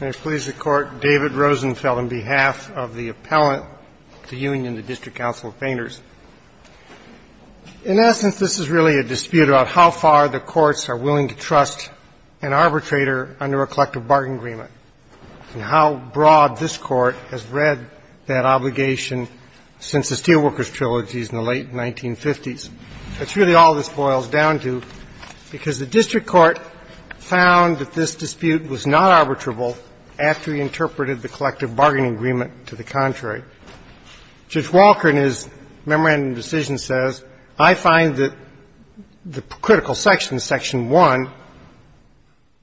May it please the Court, David Rosenfeld on behalf of the Appellant to Union, the District Council of Painters. In essence, this is really a dispute about how far the courts are willing to trust an arbitrator under a collective bargain agreement and how broad this Court has read that obligation since the Steelworkers Trilogies in the late 1950s. That's really all this boils down to, because the district court found that this dispute was not arbitrable after he interpreted the collective bargaining agreement to the contrary. Judge Walker, in his memorandum of decision, says, I find that the critical section, section 1,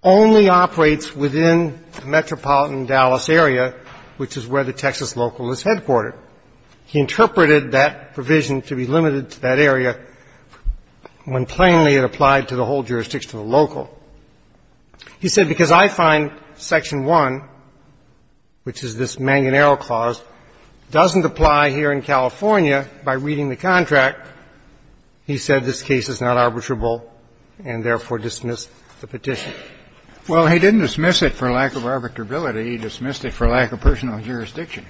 only operates within the metropolitan Dallas area, which is where the Texas local is headquartered. He interpreted that provision to be limited to that area when plainly it applied to the whole jurisdiction of the local. He said, because I find section 1, which is this mangonero clause, doesn't apply here in California by reading the contract, he said this case is not arbitrable and, therefore, dismissed the petition. Well, he didn't dismiss it for lack of arbitrability. He dismissed it for lack of personal jurisdiction.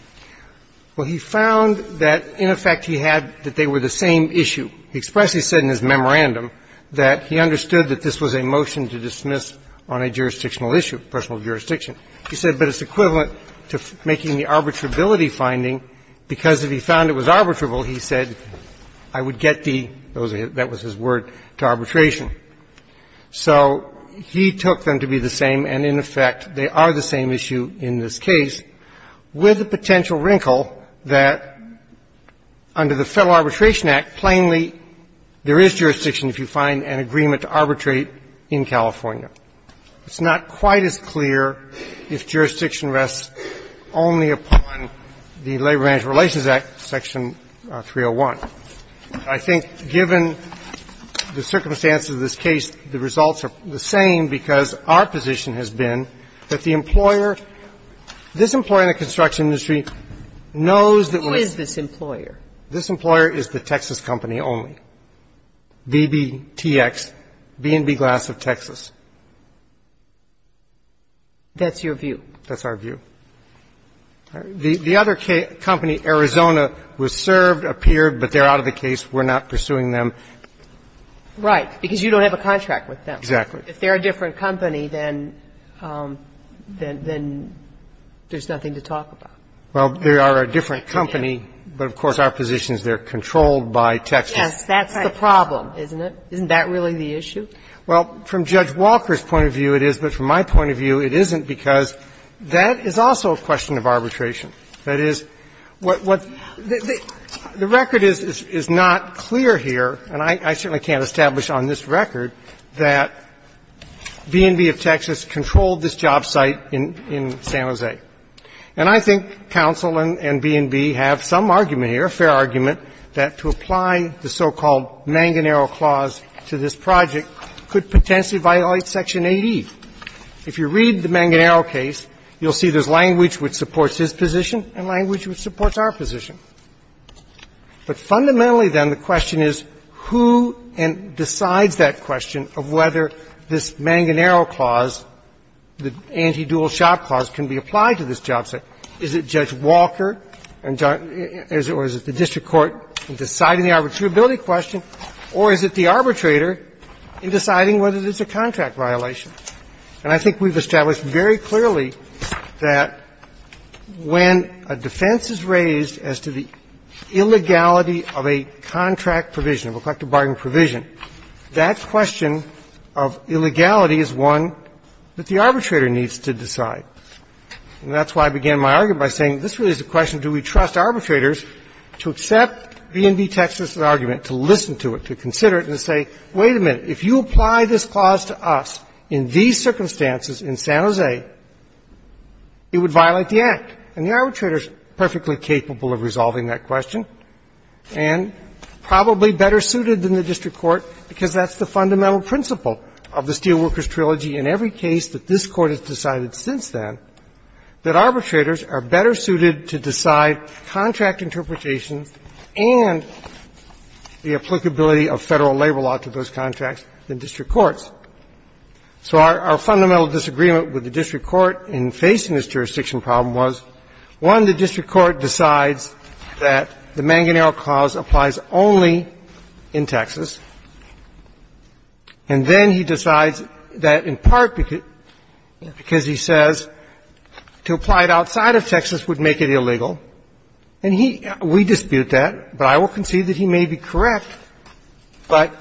Well, he found that, in effect, he had that they were the same issue. He expressly said in his memorandum that he understood that this was a motion to dismiss on a jurisdictional issue, personal jurisdiction. He said, but it's equivalent to making the arbitrability finding, because if he found it was arbitrable, he said, I would get the, that was his word, to arbitration. So he took them to be the same, and, in effect, they are the same issue in this case with the potential wrinkle that under the Federal Arbitration Act, plainly, there is jurisdiction if you find an agreement to arbitrate in California. It's not quite as clear if jurisdiction rests only upon the Labor Management Relations Act, section 301. I think, given the circumstances of this case, the results are the same because our position has been that the employer, this employer in the construction industry, knows that when it's. Who is this employer? This employer is the Texas company only. BBTX, B&B Glass of Texas. That's your view. That's our view. The other company, Arizona, was served, appeared, but they're out of the case. We're not pursuing them. Right. Because you don't have a contract with them. Exactly. If they're a different company, then there's nothing to talk about. Well, they are a different company, but, of course, our position is they're controlled by Texas. Yes. That's the problem, isn't it? Isn't that really the issue? Well, from Judge Walker's point of view, it is. But from my point of view, it isn't because that is also a question of arbitration. That is, what the record is not clear here, and I certainly can't establish on this record that B&B of Texas controlled this job site in San Jose. And I think counsel and B&B have some argument here, a fair argument, that to apply the so-called Manganero clause to this project could potentially violate Section 80. If you read the Manganero case, you'll see there's language which supports his position and language which supports our position. But fundamentally, then, the question is who decides that question of whether this Manganero clause, the anti-dual shop clause, can be applied to this job site. Is it Judge Walker or is it the district court in deciding the arbitrability question, or is it the arbitrator in deciding whether it is a contract violation? And I think we've established very clearly that when a defense is raised as to the illegality of a contract provision, of a collective bargaining provision, that question of illegality is one that the arbitrator needs to decide. And that's why I began my argument by saying this really is a question, do we trust arbitrators to accept B&B Texas's argument, to listen to it, to consider it, and to say, wait a minute, if you apply this clause to us in these circumstances in San Jose, it would violate the Act. And the arbitrator is perfectly capable of resolving that question and probably better suited than the district court, because that's the fundamental principle of the Steelworkers Trilogy in every case that this Court has decided since then, that arbitrators are better suited to decide contract interpretations and the applicability of Federal labor law to those contracts than district courts. So our fundamental disagreement with the district court in facing this jurisdiction problem was, one, the district court decides that the Manganero clause applies only in Texas, and then he decides that in part because he says to apply it outside of Texas would make it illegal, and he we dispute that, and then he decides that he would make it illegal. And he does not dispute that, but I will concede that he may be correct, but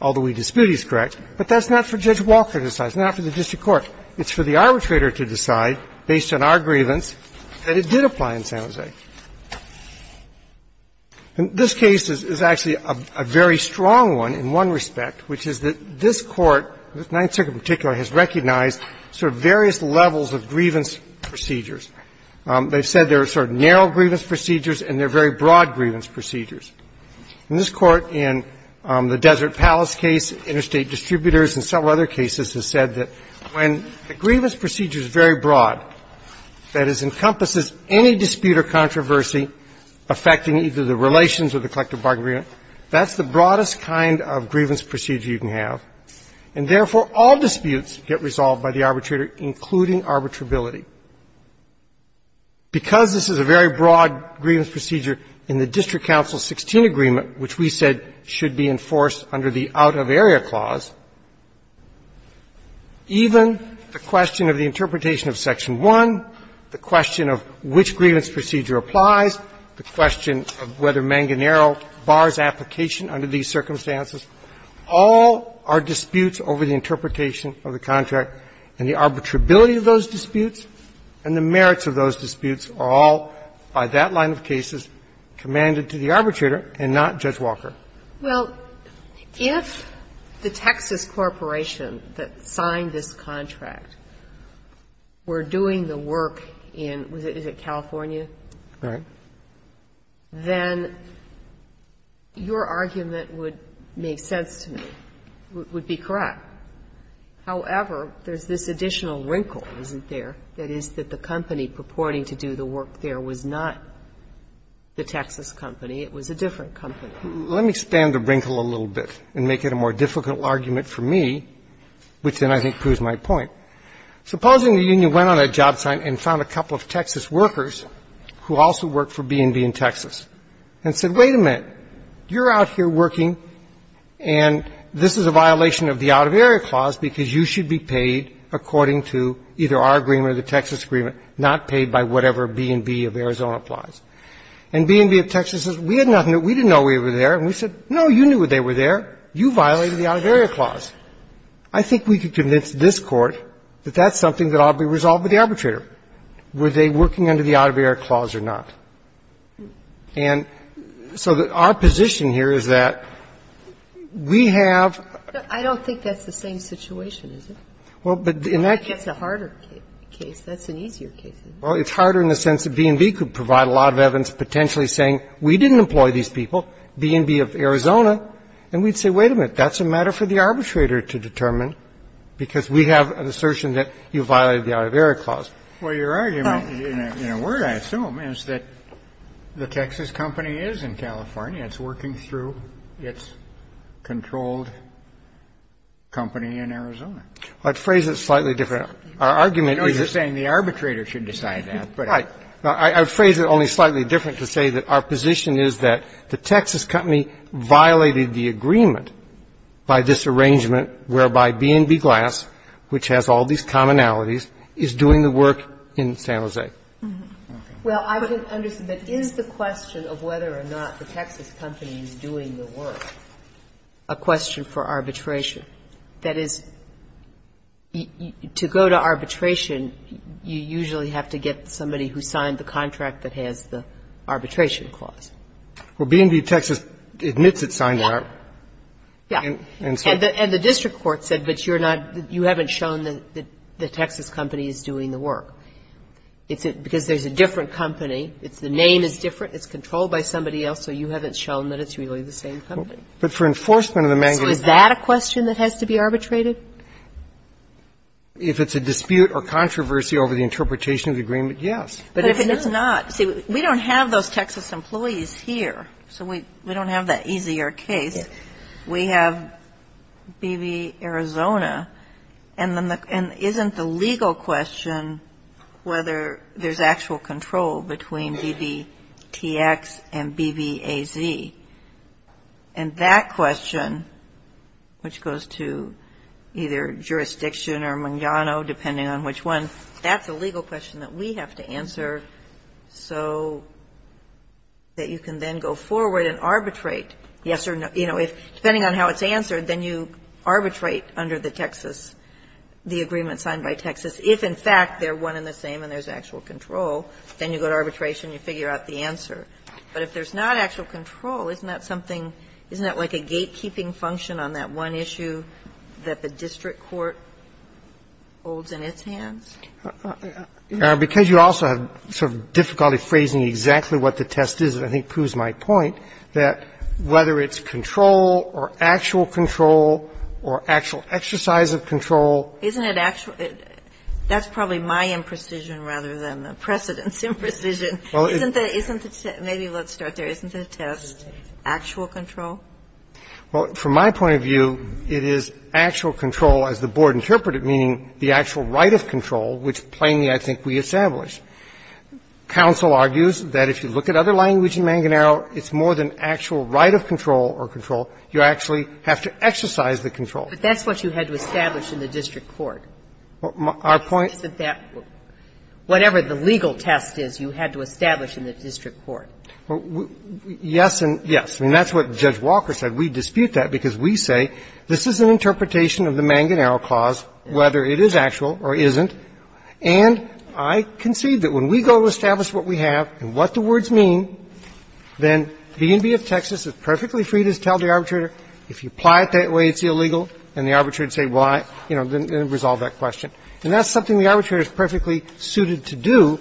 although we dispute he's correct, but that's not for Judge Walker to decide. It's not for the district court. It's for the arbitrator to decide, based on our grievance, that it did apply in San Jose. And this case is actually a very strong one in one respect, which is that this Court, this Ninth Circuit in particular, has recognized sort of various levels of grievance procedures. They've said there are sort of narrow grievance procedures and there are very broad grievance procedures. In this Court, in the Desert Palace case, interstate distributors, and several other cases, has said that when the grievance procedure is very broad, that it encompasses any dispute or controversy affecting either the relations or the collective bargaining agreement, that's the broadest kind of grievance procedure you can have, and therefore all disputes get resolved by the arbitrator, including arbitrability. Because this is a very broad grievance procedure in the District Council 16 agreement, which we said should be enforced under the out-of-area clause, even the question of the interpretation of Section 1, the question of which grievance procedure applies, the question of whether Manganero bars application under these circumstances, all are disputes over the interpretation of the contract and the arbitrability of those disputes, and the merits of those disputes are all, by that line of cases, commanded to the arbitrator and not Judge Walker. Well, if the Texas Corporation that signed this contract were doing the work in, is it California? Right. Then your argument would make sense to me, would be correct. However, there's this additional wrinkle, isn't there, that is that the company purporting to do the work there was not the Texas company, it was a different company. Let me expand the wrinkle a little bit and make it a more difficult argument for me, which then I think proves my point. Supposing the union went on a job site and found a couple of Texas workers who also worked for B&B in Texas and said, wait a minute, you're out here working and this is a violation of the out-of-area clause because you should be paid according to either our agreement or the Texas agreement, not paid by whatever B&B of Arizona applies. And B&B of Texas says, we didn't know we were there, and we said, no, you knew they were there, you violated the out-of-area clause. I think we can convince this Court that that's something that ought to be resolved with the arbitrator, were they working under the out-of-area clause or not. And so our position here is that we have the same situation, isn't it? It's a harder case, that's an easier case. Well, it's harder in the sense that B&B could provide a lot of evidence potentially saying, we didn't employ these people, B&B of Arizona, and we'd say, wait a minute, that's a matter for the arbitrator to determine because we have an assertion that you violated the out-of-area clause. Well, your argument, in a word I assume, is that the Texas company is in California. It's working through its controlled company in Arizona. I'd phrase it slightly different. Our argument is that the arbitrator should decide that. I'd phrase it only slightly different to say that our position is that the Texas company violated the agreement by this arrangement whereby B&B Glass, which has all these commonalities, is doing the work in San Jose. Well, I would understand, but is the question of whether or not the Texas company is doing the work a question for arbitration? That is, to go to arbitration, you usually have to get somebody who signed the contract that has the arbitration clause. Well, B&B Texas admits it signed the arbitration clause, and so on. But if it's not, see, we don't have those Texas employees here, so we don't have that easier case. We have B&B Arizona, and then the issue is that the Texas company is doing the work. So is that a question that has to be arbitrated? Isn't the legal question whether there's actual control between BBTX and BBAZ? And that question, which goes to either jurisdiction or Mangano, depending on which one, that's a legal question that we have to answer so that you can then go forward and arbitrate. Yes or no. You know, depending on how it's answered, then you arbitrate under the Texas, the agreement signed by Texas. If, in fact, they're one and the same and there's actual control, then you go to arbitration and you figure out the answer. But if there's not actual control, isn't that something, isn't that like a gatekeeping function on that one issue that the district court holds in its hands? Because you also have sort of difficulty phrasing exactly what the test is, and I think that proves my point, that whether it's control or actual control or actual exercise of control. Isn't it actual – that's probably my imprecision rather than the precedent's imprecision. Well, isn't the – isn't the – maybe let's start there. Isn't the test actual control? Well, from my point of view, it is actual control, as the Board interpreted it, meaning the actual right of control, which, plainly, I think we establish. Counsel argues that if you look at other language in Manganaro, it's more than actual right of control or control. You actually have to exercise the control. But that's what you had to establish in the district court. Our point – Isn't that whatever the legal test is you had to establish in the district court? Yes and yes. I mean, that's what Judge Walker said. We dispute that because we say this is an interpretation of the Manganaro clause, whether it is actual or isn't. And I concede that when we go to establish what we have and what the words mean, then B&B of Texas is perfectly free to tell the arbitrator, if you apply it that way, it's illegal, and the arbitrator would say, well, I didn't resolve that question. And that's something the arbitrator is perfectly suited to do.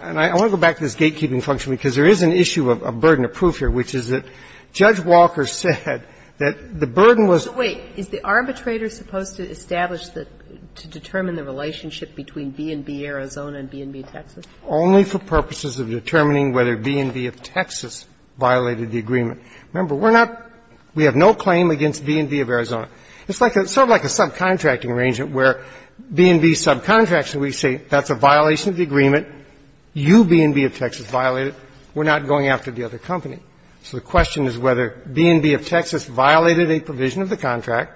And I want to go back to this gatekeeping function, because there is an issue of burden of proof here, which is that Judge Walker said that the burden was – So the question is, is the arbitrator supposed to establish the – to determine the relationship between B&B Arizona and B&B Texas? Only for purposes of determining whether B&B of Texas violated the agreement. Remember, we're not – we have no claim against B&B of Arizona. It's like a – sort of like a subcontracting arrangement where B&B subcontracts and we say that's a violation of the agreement, you, B&B of Texas, violate it, we're not going after the other company. So the question is whether B&B of Texas violated a provision of the contract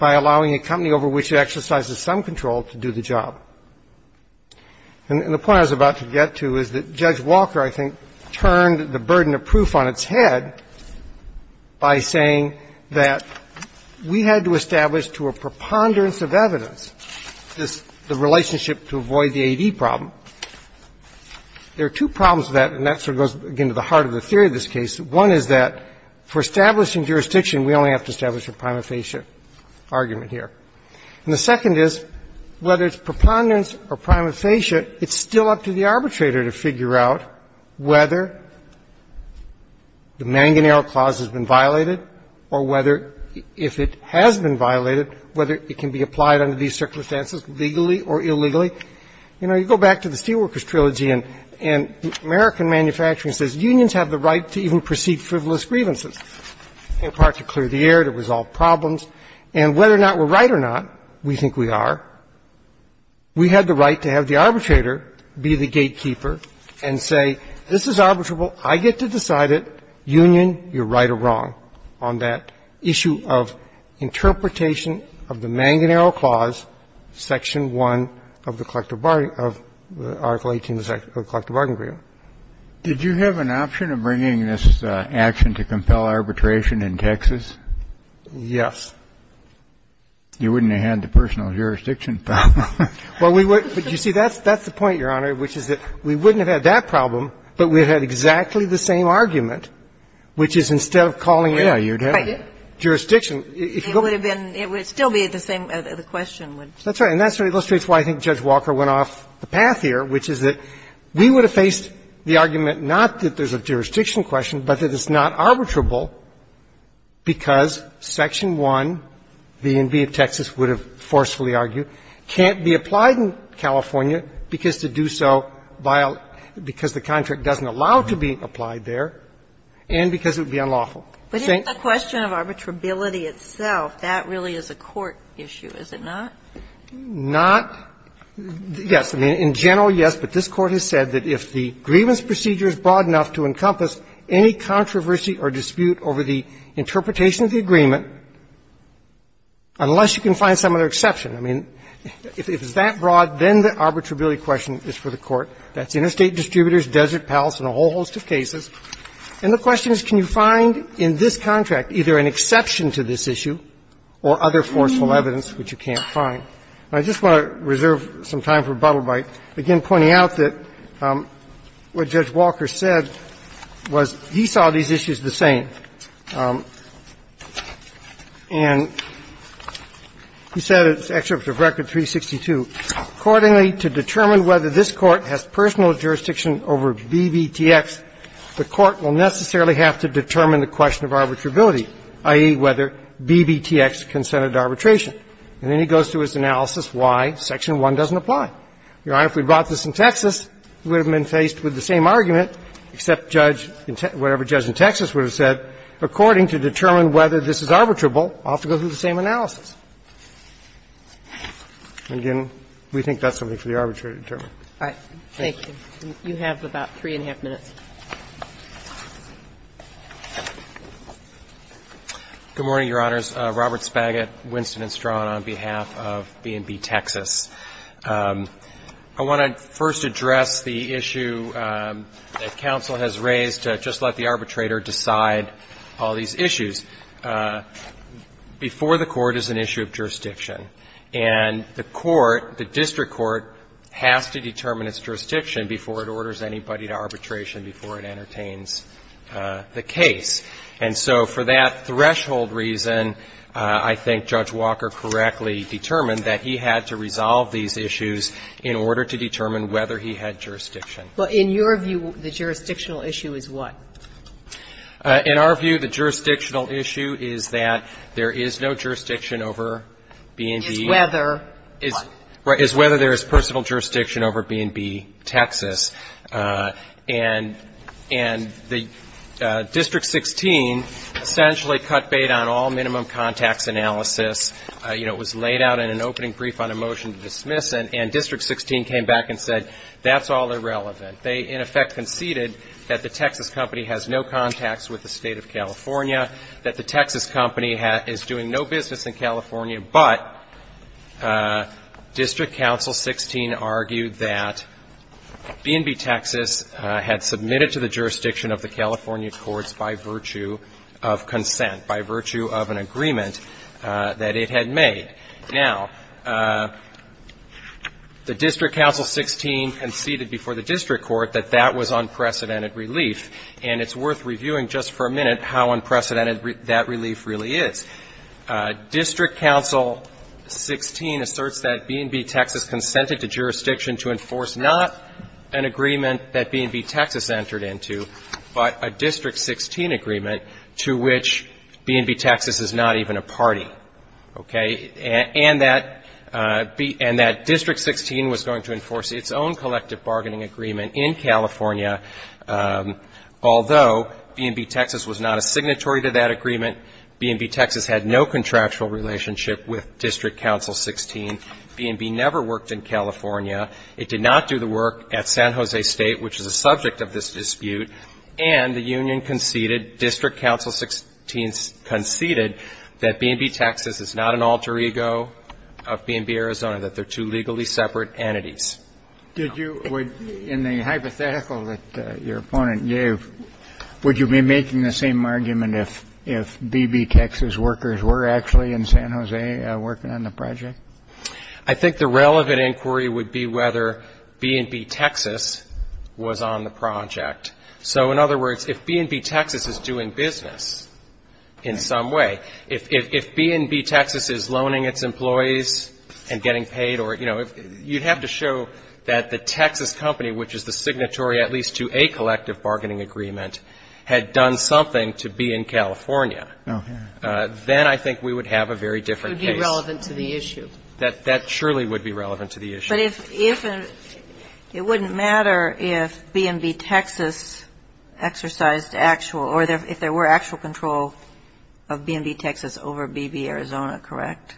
by allowing a company over which it exercises some control to do the job. And the point I was about to get to is that Judge Walker, I think, turned the burden of proof on its head by saying that we had to establish to a preponderance of evidence this – the relationship to avoid the A.D. problem. There are two problems with that, and that sort of goes, again, to the heart of the theory of this case. One is that for establishing jurisdiction, we only have to establish a prima facie argument here. And the second is, whether it's preponderance or prima facie, it's still up to the arbitrator to figure out whether the Manganero Clause has been violated or whether – if it has been violated, whether it can be applied under these circumstances, legally or illegally. You know, you go back to the Steelworkers Trilogy, and American manufacturing says unions have the right to even proceed frivolous grievances, in part to clear the air, to resolve problems. And whether or not we're right or not, we think we are. We have the right to have the arbitrator be the gatekeeper and say, this is arbitrable. I get to decide it, union, you're right or wrong, on that issue of interpretation of the Manganero Clause, Section 1 of the Collective Bargain – of Article 18 of the Collective Bargain Agreement. Did you have an option of bringing this action to compel arbitration in Texas? Yes. You wouldn't have had the personal jurisdiction problem. Well, we would – but, you see, that's the point, Your Honor, which is that we wouldn't have had that problem, but we would have had exactly the same argument, which is instead of calling it a jurisdiction. It would have been – it would still be the same – the question would be the same. That's right. And that's what illustrates why I think Judge Walker went off the path here, which is that we would have faced the argument not that there's a jurisdiction question, but that it's not arbitrable because Section 1, the ENB of Texas would have forcefully argued, can't be applied in California because to do so by – because the contract doesn't allow to be applied there, and because it would be unlawful. But if the question of arbitrability itself, that really is a court issue, is it not? Not – yes. I mean, in general, yes, but this Court has said that if the grievance procedure is broad enough to encompass any controversy or dispute over the interpretation of the agreement, unless you can find some other exception. I mean, if it's that broad, then the arbitrability question is for the Court. That's interstate distributors, Desert Palace, and a whole host of cases. And the question is, can you find in this contract either an exception to this issue or other forceful evidence which you can't find? And I just want to reserve some time for a bubble bite, again pointing out that what Judge Walker said was he saw these issues the same. And he said in his excerpt of Record 362, Your Honor, if we brought this in Texas, we would have been faced with the same argument, except Judge – whatever Judge in Texas would have said, according to determine whether this is arbitrable, I'll have to go through the same analysis. We think that's something for the arbitrator to determine. Thank you. You have about three and a half minutes. Good morning, Your Honors. Robert Spagett, Winston & Strawn, on behalf of B&B Texas. I want to first address the issue that counsel has raised to just let the arbitrator Before the Court is an issue of jurisdiction. And the court, the district court, has to determine its jurisdiction before it orders anybody to arbitration, before it entertains the case. And so for that threshold reason, I think Judge Walker correctly determined that he had to resolve these issues in order to determine whether he had jurisdiction. Well, in your view, the jurisdictional issue is what? In our view, the jurisdictional issue is that there is no jurisdiction over B&B Texas. It's whether what? It's whether there is personal jurisdiction over B&B Texas. And District 16 essentially cut bait on all minimum contacts analysis. You know, it was laid out in an opening brief on a motion to dismiss it. And District 16 came back and said, that's all irrelevant. They, in effect, conceded that the Texas company has no contacts with the state of California, that the Texas company is doing no business in California, but District Counsel 16 argued that B&B Texas had submitted to the jurisdiction of the California courts by virtue of consent, by virtue of an agreement that it had made. Now, the District Counsel 16 conceded before the district court that that was unprecedented relief, and it's worth reviewing just for a minute how unprecedented that relief really is. District Counsel 16 asserts that B&B Texas consented to jurisdiction to enforce not an agreement that B&B Texas entered into, but a District 16 agreement to which B&B Texas is not even a party, okay, and that District 16 was going to enforce its own collective bargaining agreement in California, although B&B Texas was not a signatory to that agreement, B&B Texas had no contractual relationship with District Counsel 16, B&B never worked in California, it did not do the work at San Jose State, which is a subject of this dispute, and the union conceded, District Counsel 16 conceded that B&B Texas is not an alter ego of B&B Arizona, that they're two legally separate entities. Kennedy. In the hypothetical that your opponent gave, would you be making the same argument if B&B Texas workers were actually in San Jose working on the project? I think the relevant inquiry would be whether B&B Texas was on the project. So in other words, if B&B Texas is doing business in some way, if B&B Texas is loaning its employees and getting paid or, you know, you'd have to show that the Texas company, which is the signatory at least to a collective bargaining agreement, had done something to be in California. Then I think we would have a very different case. It would be relevant to the issue. That surely would be relevant to the issue. But if it wouldn't matter if B&B Texas exercised actual or if there were actual control of B&B Texas over B&B Arizona, correct?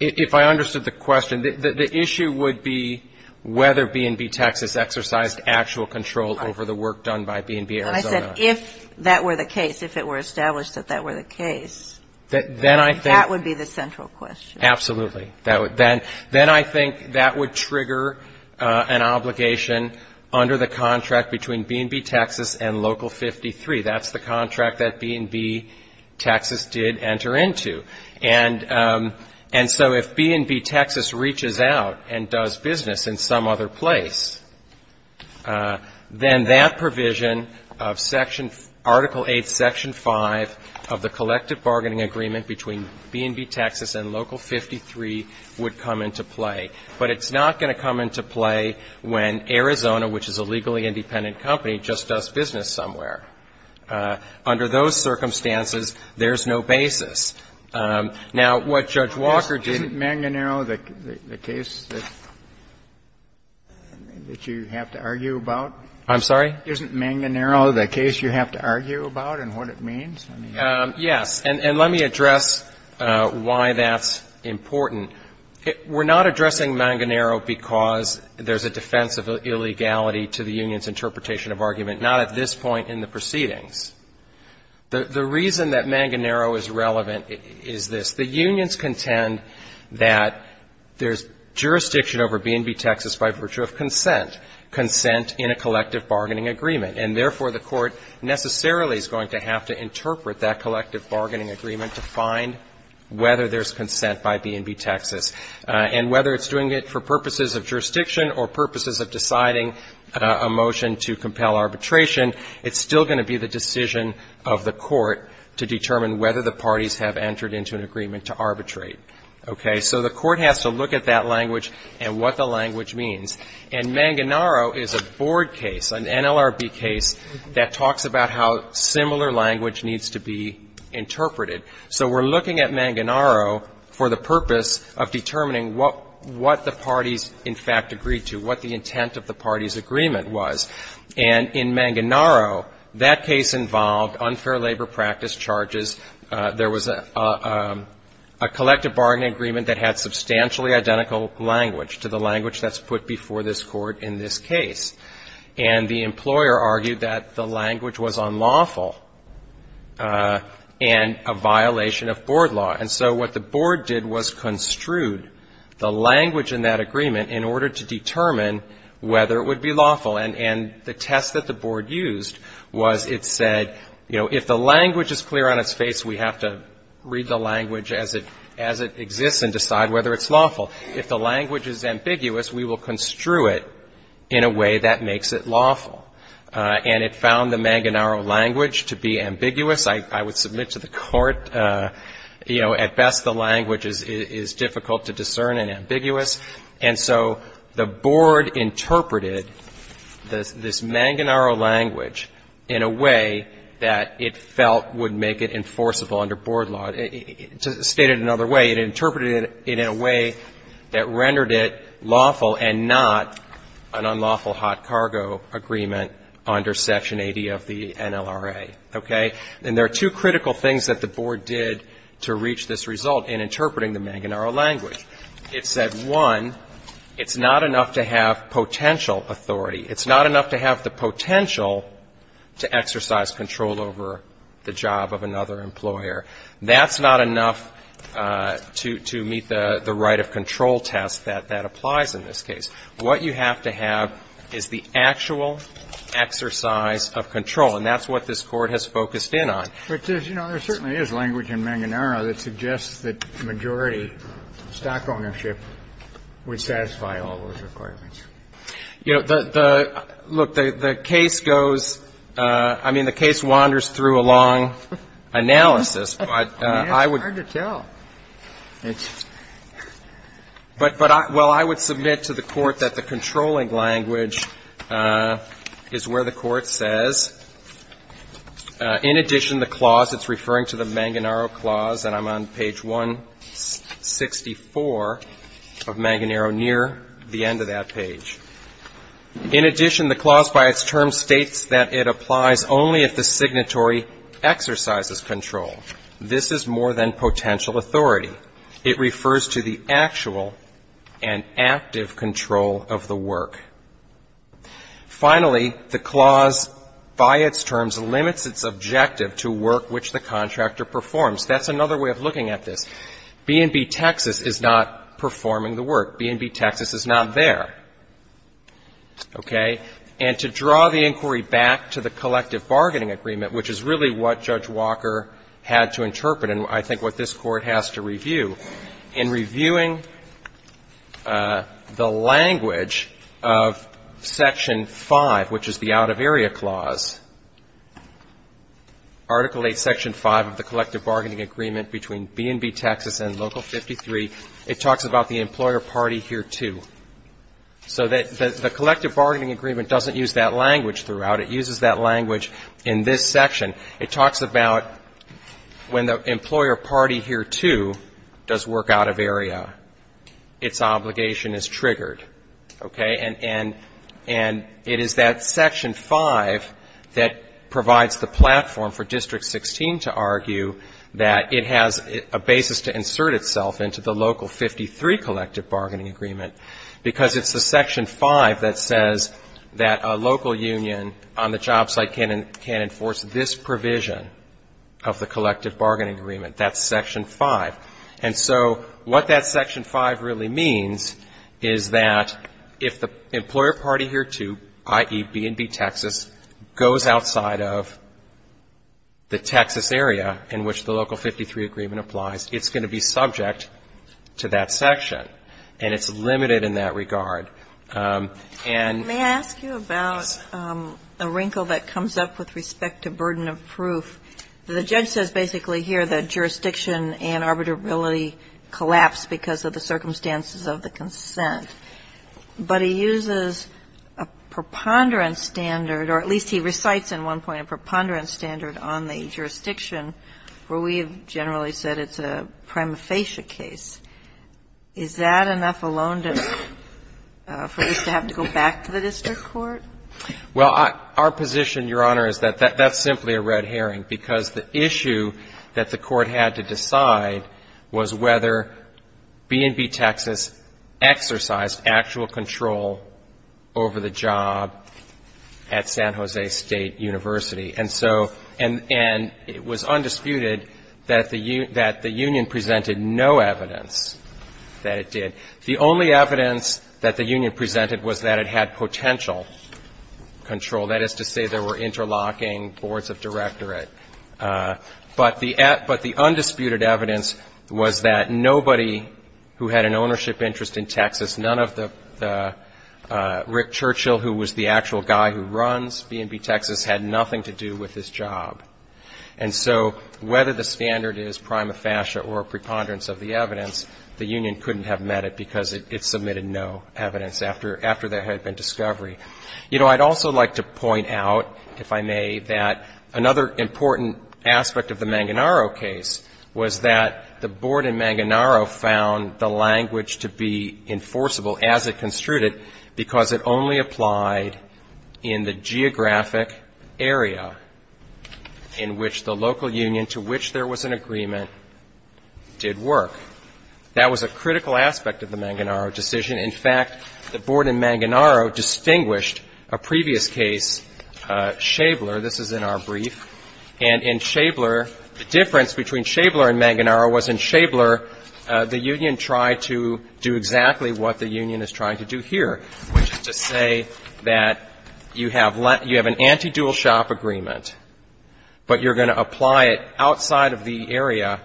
If I understood the question, the issue would be whether B&B Texas exercised actual control over the work done by B&B Arizona. I said if that were the case, if it were established that that were the case, that would be the central question. Absolutely. Then I think that would trigger an obligation under the contract between B&B Texas and Local 53. That's the contract that B&B Texas did enter into. And so if B&B Texas reaches out and does business in some other place, then that provision of Article 8, Section 5 of the collective bargaining agreement between B&B Texas and Local 53 would come into play. But it's not going to come into play when Arizona, which is a legally independent company, just does business somewhere. Under those circumstances, there's no basis. Now, what Judge Walker didn't ---- Isn't Manganero the case that you have to argue about? I'm sorry? Isn't Manganero the case you have to argue about and what it means? Yes. And let me address why that's important. We're not addressing Manganero because there's a defense of illegality to the union's interpretation of argument, not at this point in the proceedings. The reason that Manganero is relevant is this. The unions contend that there's jurisdiction over B&B Texas by virtue of consent, consent in a collective bargaining agreement. And therefore, the Court necessarily is going to have to interpret that collective bargaining agreement to find whether there's consent by B&B Texas. And whether it's doing it for purposes of jurisdiction or purposes of deciding a motion to compel arbitration, it's still going to be the decision of the Court to determine whether the parties have entered into an agreement to arbitrate. Okay? So the Court has to look at that language and what the language means. And Manganero is a board case, an NLRB case, that talks about how similar language needs to be interpreted. So we're looking at Manganero for the purpose of determining what the parties in fact agreed to, what the intent of the parties' agreement was. And in Manganero, that case involved unfair labor practice charges. There was a collective bargaining agreement that had substantially identical language to the language that's put before this Court in this case. And the employer argued that the language was unlawful and a violation of board law. And so what the board did was construed the language in that agreement in order to determine whether it would be lawful. And the test that the board used was it said, you know, if the language is clear on its face, we have to read the language as it exists and decide whether it's lawful. If the language is ambiguous, we will construe it in a way that makes it lawful. And it found the Manganero language to be ambiguous. I would submit to the Court, you know, at best the language is difficult to discern and ambiguous. And so the board interpreted this Manganero language in a way that it felt would make it enforceable under board law. And to state it another way, it interpreted it in a way that rendered it lawful and not an unlawful hot cargo agreement under Section 80 of the NLRA, okay? And there are two critical things that the board did to reach this result in interpreting the Manganero language. It said, one, it's not enough to have potential authority. It's not enough to have the potential to exercise control over the job of another employer. That's not enough to meet the right of control test that applies in this case. What you have to have is the actual exercise of control. And that's what this Court has focused in on. But, you know, there certainly is language in Manganero that suggests that majority stock ownership would satisfy all those requirements. You know, the – look, the case goes – I mean, the case wanders through a long analysis, but I would – I mean, it's hard to tell. But I – well, I would submit to the Court that the controlling language is where the Court says, in addition to the clause, it's referring to the Manganero clause, and I'm on page 164 of Manganero near the end of that page. In addition, the clause by its term states that it applies only if the signatory exercises control. This is more than potential authority. It refers to the actual and active control of the work. Finally, the clause by its terms limits its objective to work which the contractor performs. That's another way of looking at this. B&B Texas is not performing the work. B&B Texas is not there. Okay? And to draw the inquiry back to the collective bargaining agreement, which is really what Judge Walker had to interpret, and I think what this Court has to review, in reviewing the language of Section 5, which is the out-of-area clause, Article 8, Section 5 of the collective bargaining agreement between B&B Texas and Local 53, it talks about the employer party here, too. So the collective bargaining agreement doesn't use that language throughout. It uses that language in this section. It talks about when the employer party here, too, does work out-of-area, its obligation is triggered. Okay? And it is that Section 5 that provides the platform for District 16 to argue that it has a basis to insert itself into the Local 53 collective bargaining agreement because it's the Section 5 that says that a local union on the job site can enforce this provision of the collective bargaining agreement. That's Section 5. And so what that Section 5 really means is that if the employer party here, too, i.e., B&B Texas, goes outside of the Texas area in which the Local 53 agreement applies, it's going to be subject to that section. And it's limited in that regard. And they ask you about a wrinkle that comes up with respect to burden of proof. The judge says basically here that jurisdiction and arbitrability collapse because of the circumstances of the consent. But he uses a preponderance standard, or at least he recites in one point a preponderance standard on the jurisdiction where we have generally said it's a prima facie case. Is that enough alone for this to have to go back to the district court? Well, our position, Your Honor, is that that's simply a red herring because the issue that the Court had to decide was whether B&B Texas exercised actual control over the job at San Jose State University. And it was undisputed that the union presented no evidence that it did. The only evidence that the union presented was that it had potential control. That is to say there were interlocking boards of directorate. But the undisputed evidence was that nobody who had an ownership interest in Texas, none of the Rick Churchill who was the actual guy who runs B&B Texas had nothing to do with his job. And so whether the standard is prima facie or a preponderance of the evidence, the union couldn't have met it because it submitted no evidence after there had been discovery. You know, I'd also like to point out, if I may, that another important aspect of the Manganaro case was that the Manganaro decision was not enforceable as it construed it because it only applied in the geographic area in which the local union to which there was an agreement did work. That was a critical aspect of the Manganaro decision. In fact, the board in Manganaro distinguished a previous case, Schaebler. This is in our brief. And in Schaebler, the difference between Schaebler and Manganaro was in Schaebler, the union tried to do exactly what the union is trying to do here, which is to say that you have an anti-dual shop agreement, but you're going to apply it outside of the area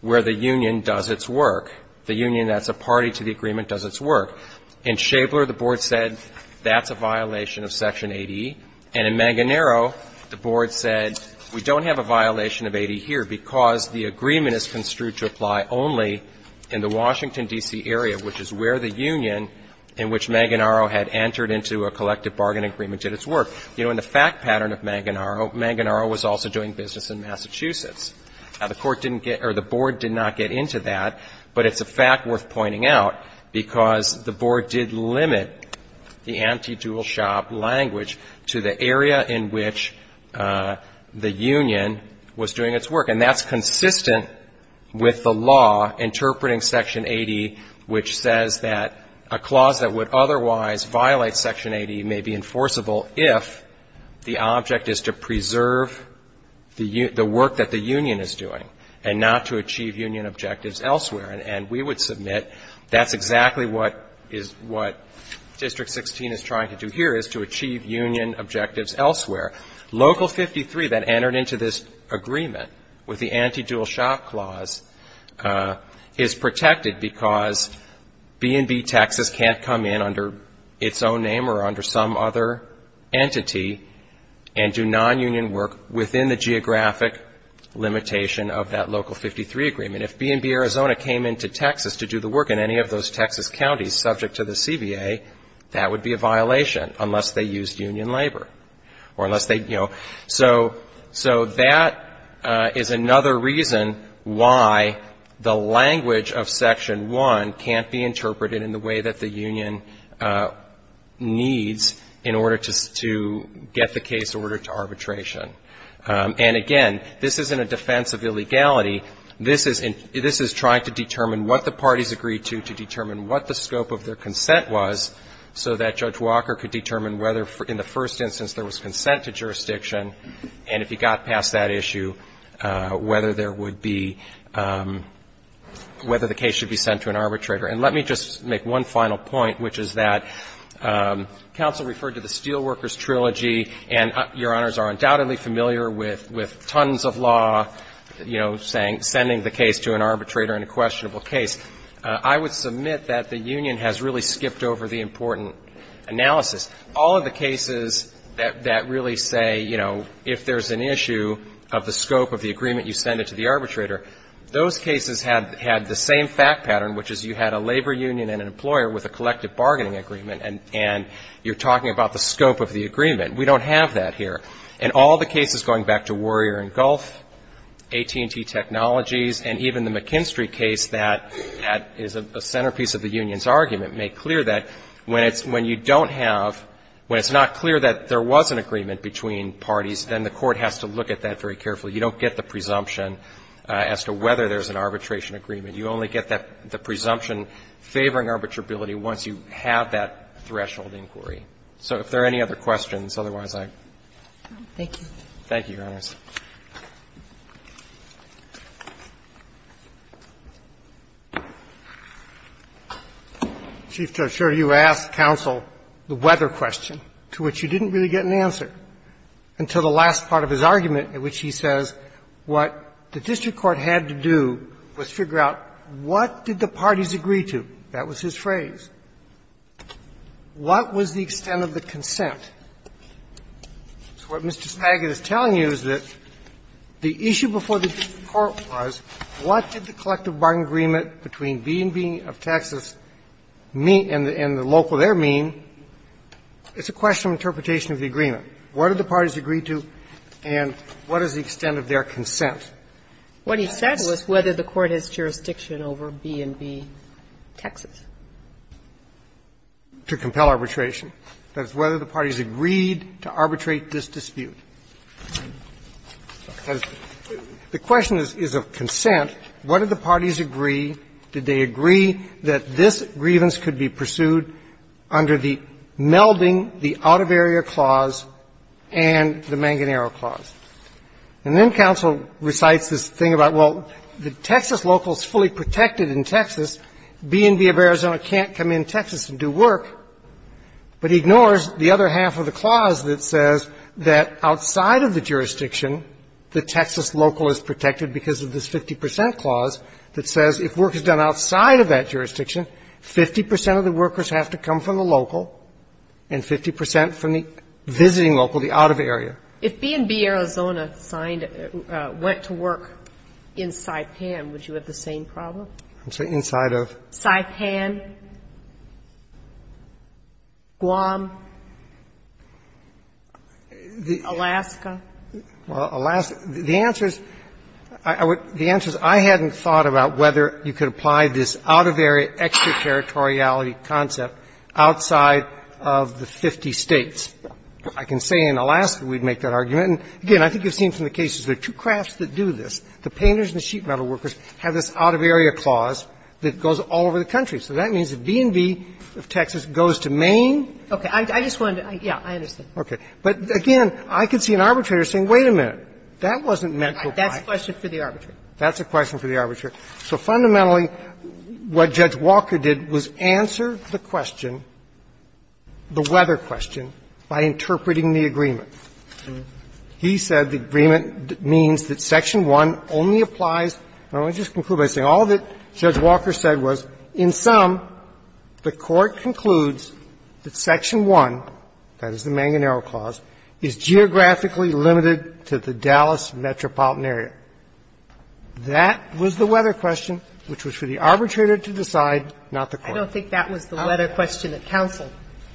where the union does its work, the union that's a party to the agreement does its work. In Schaebler, the board said that's a violation of Section 80. And in Manganaro, the board said we don't have a violation of 80 here because the agreement is construed to apply only in the Washington, D.C., area, which is where the union in which Manganaro had entered into a collective bargain agreement did its work. You know, in the fact pattern of Manganaro, Manganaro was also doing business in Massachusetts. Now, the court didn't get or the board did not get into that, but it's a fact worth pointing out because the board did limit the anti-dual shop language to the area in which the union was doing its work. And that's consistent with the law interpreting Section 80, which says that a clause that would otherwise violate Section 80 may be enforceable if the object is to preserve the work that the union is doing and not to achieve union objectives elsewhere. And we would submit that's exactly what District 16 is trying to do here, is to achieve union objectives elsewhere. Local 53 that entered into this agreement with the anti-dual shop clause is protected because B&B Texas can't come in under its own name or under some other entity and do nonunion work within the geographic limitation of that Local 53 agreement. If B&B Arizona came into Texas to do the work in any of those Texas counties subject to the CBA, that would be a violation unless they used union labor or unless they, you know. So that is another reason why the language of Section 1 can't be interpreted in the way that the union needs in order to get the case ordered to arbitration. And, again, this isn't a defense of illegality. This is trying to determine what the parties agreed to, to determine what the scope of their consent was, so that Judge Walker could determine whether in the first instance there was consent to jurisdiction, and if he got past that issue, whether there would be, whether the case should be sent to an arbitrator. And let me just make one final point, which is that counsel referred to the Steelworkers Trilogy, and Your Honors are undoubtedly familiar with tons of law, you know, sending the case to an arbitrator in a questionable case. I would submit that the union has really skipped over the important analysis. All of the cases that really say, you know, if there's an issue of the scope of the case, you send it to the arbitrator, those cases had the same fact pattern, which is you had a labor union and an employer with a collective bargaining agreement, and you're talking about the scope of the agreement. We don't have that here. In all the cases going back to Warrior & Gulf, AT&T Technologies, and even the McKinstry case that is a centerpiece of the union's argument, make clear that when you don't have, when it's not clear that there was an agreement between parties, then the court has to look at that very carefully. You don't get the presumption as to whether there's an arbitration agreement. You only get that, the presumption favoring arbitrability once you have that threshold inquiry. So if there are any other questions, otherwise, I'm going to close. Thank you, Your Honors. Chief Justice Sotomayor, you asked counsel the weather question, to which you didn't really get an answer until the last part of his argument, in which he says what the district court had to do was figure out what did the parties agree to. That was his phrase. What was the extent of the consent? So what Mr. Spagat is telling you is that the issue before the district court was, what did the collective bargaining agreement between B&B of Texas mean and the local there mean? It's a question of interpretation of the agreement. What did the parties agree to, and what is the extent of their consent? What he said was whether the court has jurisdiction over B&B, Texas, to compel arbitration. That is, whether the parties agreed to arbitrate this dispute. The question is of consent, what did the parties agree, did they agree, that this grievance could be pursued under the melding, the out-of-area clause and the Manganero clause. And then counsel recites this thing about, well, the Texas local is fully protected in Texas, B&B of Arizona can't come in Texas and do work, but he ignores the other half of the clause that says that outside of the jurisdiction, the Texas local is protected because of this 50 percent clause that says if work is done outside of that jurisdiction, 50 percent of the workers have to come from the local and 50 percent from the visiting local, the out-of-area. If B&B, Arizona, went to work in Saipan, would you have the same problem? I'm sorry, inside of? Saipan, Guam, Alaska. Well, Alaska. The answer is I hadn't thought about whether you could apply this out-of-area extraterritoriality concept outside of the 50 States. I can say in Alaska we'd make that argument. And, again, I think you've seen from the cases there are two crafts that do this. The painters and the sheet metal workers have this out-of-area clause that goes all over the country. So that means that B&B of Texas goes to Maine. Okay. I just wanted to – yeah, I understand. Okay. But, again, I could see an arbitrator saying, wait a minute, that wasn't meant to apply. That's a question for the arbitrator. That's a question for the arbitrator. So fundamentally, what Judge Walker did was answer the question, the weather question, by interpreting the agreement. He said the agreement means that Section 1 only applies – I want to just conclude by saying all that Judge Walker said was, in sum, the Court concludes that Section 1, that is the Manganero Clause, is geographically limited to the Dallas metropolitan area. That was the weather question, which was for the arbitrator to decide, not the Court. I don't think that was the weather question that counsel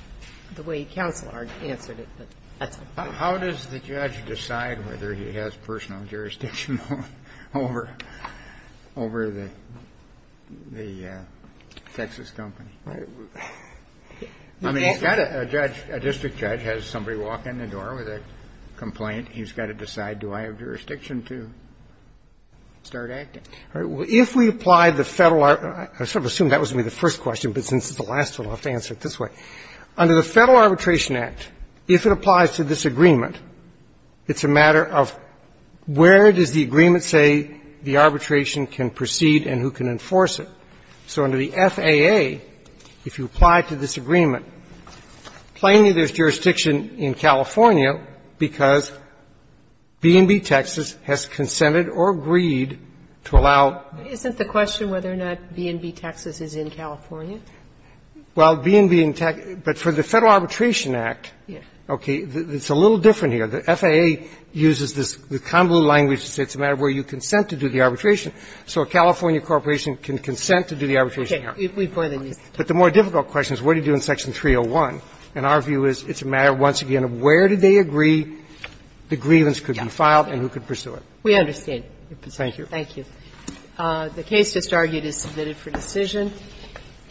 – the way counsel answered it, but that's okay. How does the judge decide whether he has personal jurisdiction over the Texas company? I mean, he's got a judge – a district judge has somebody walk in the door with a complaint. He's got to decide, do I have jurisdiction to start acting? If we apply the Federal – I sort of assumed that was going to be the first question, but since it's the last one, I'll have to answer it this way. Under the Federal Arbitration Act, if it applies to this agreement, it's a matter of where does the agreement say the arbitration can proceed and who can enforce it. So under the FAA, if you apply to this agreement, plainly there's jurisdiction in California because B&B Texas has consented or agreed to allow – But isn't the question whether or not B&B Texas is in California? Well, B&B in – but for the Federal Arbitration Act, okay, it's a little different here. The FAA uses this – the convoluted language to say it's a matter of where you consent to do the arbitration. So a California corporation can consent to do the arbitration here. Okay. We've heard of these. But the more difficult question is what do you do in Section 301? And our view is it's a matter, once again, of where did they agree the grievance could be filed and who could pursue it. We understand. Thank you. Thank you. The case just argued is submitted for decision,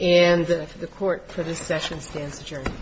and the Court, for this session, stands adjourned.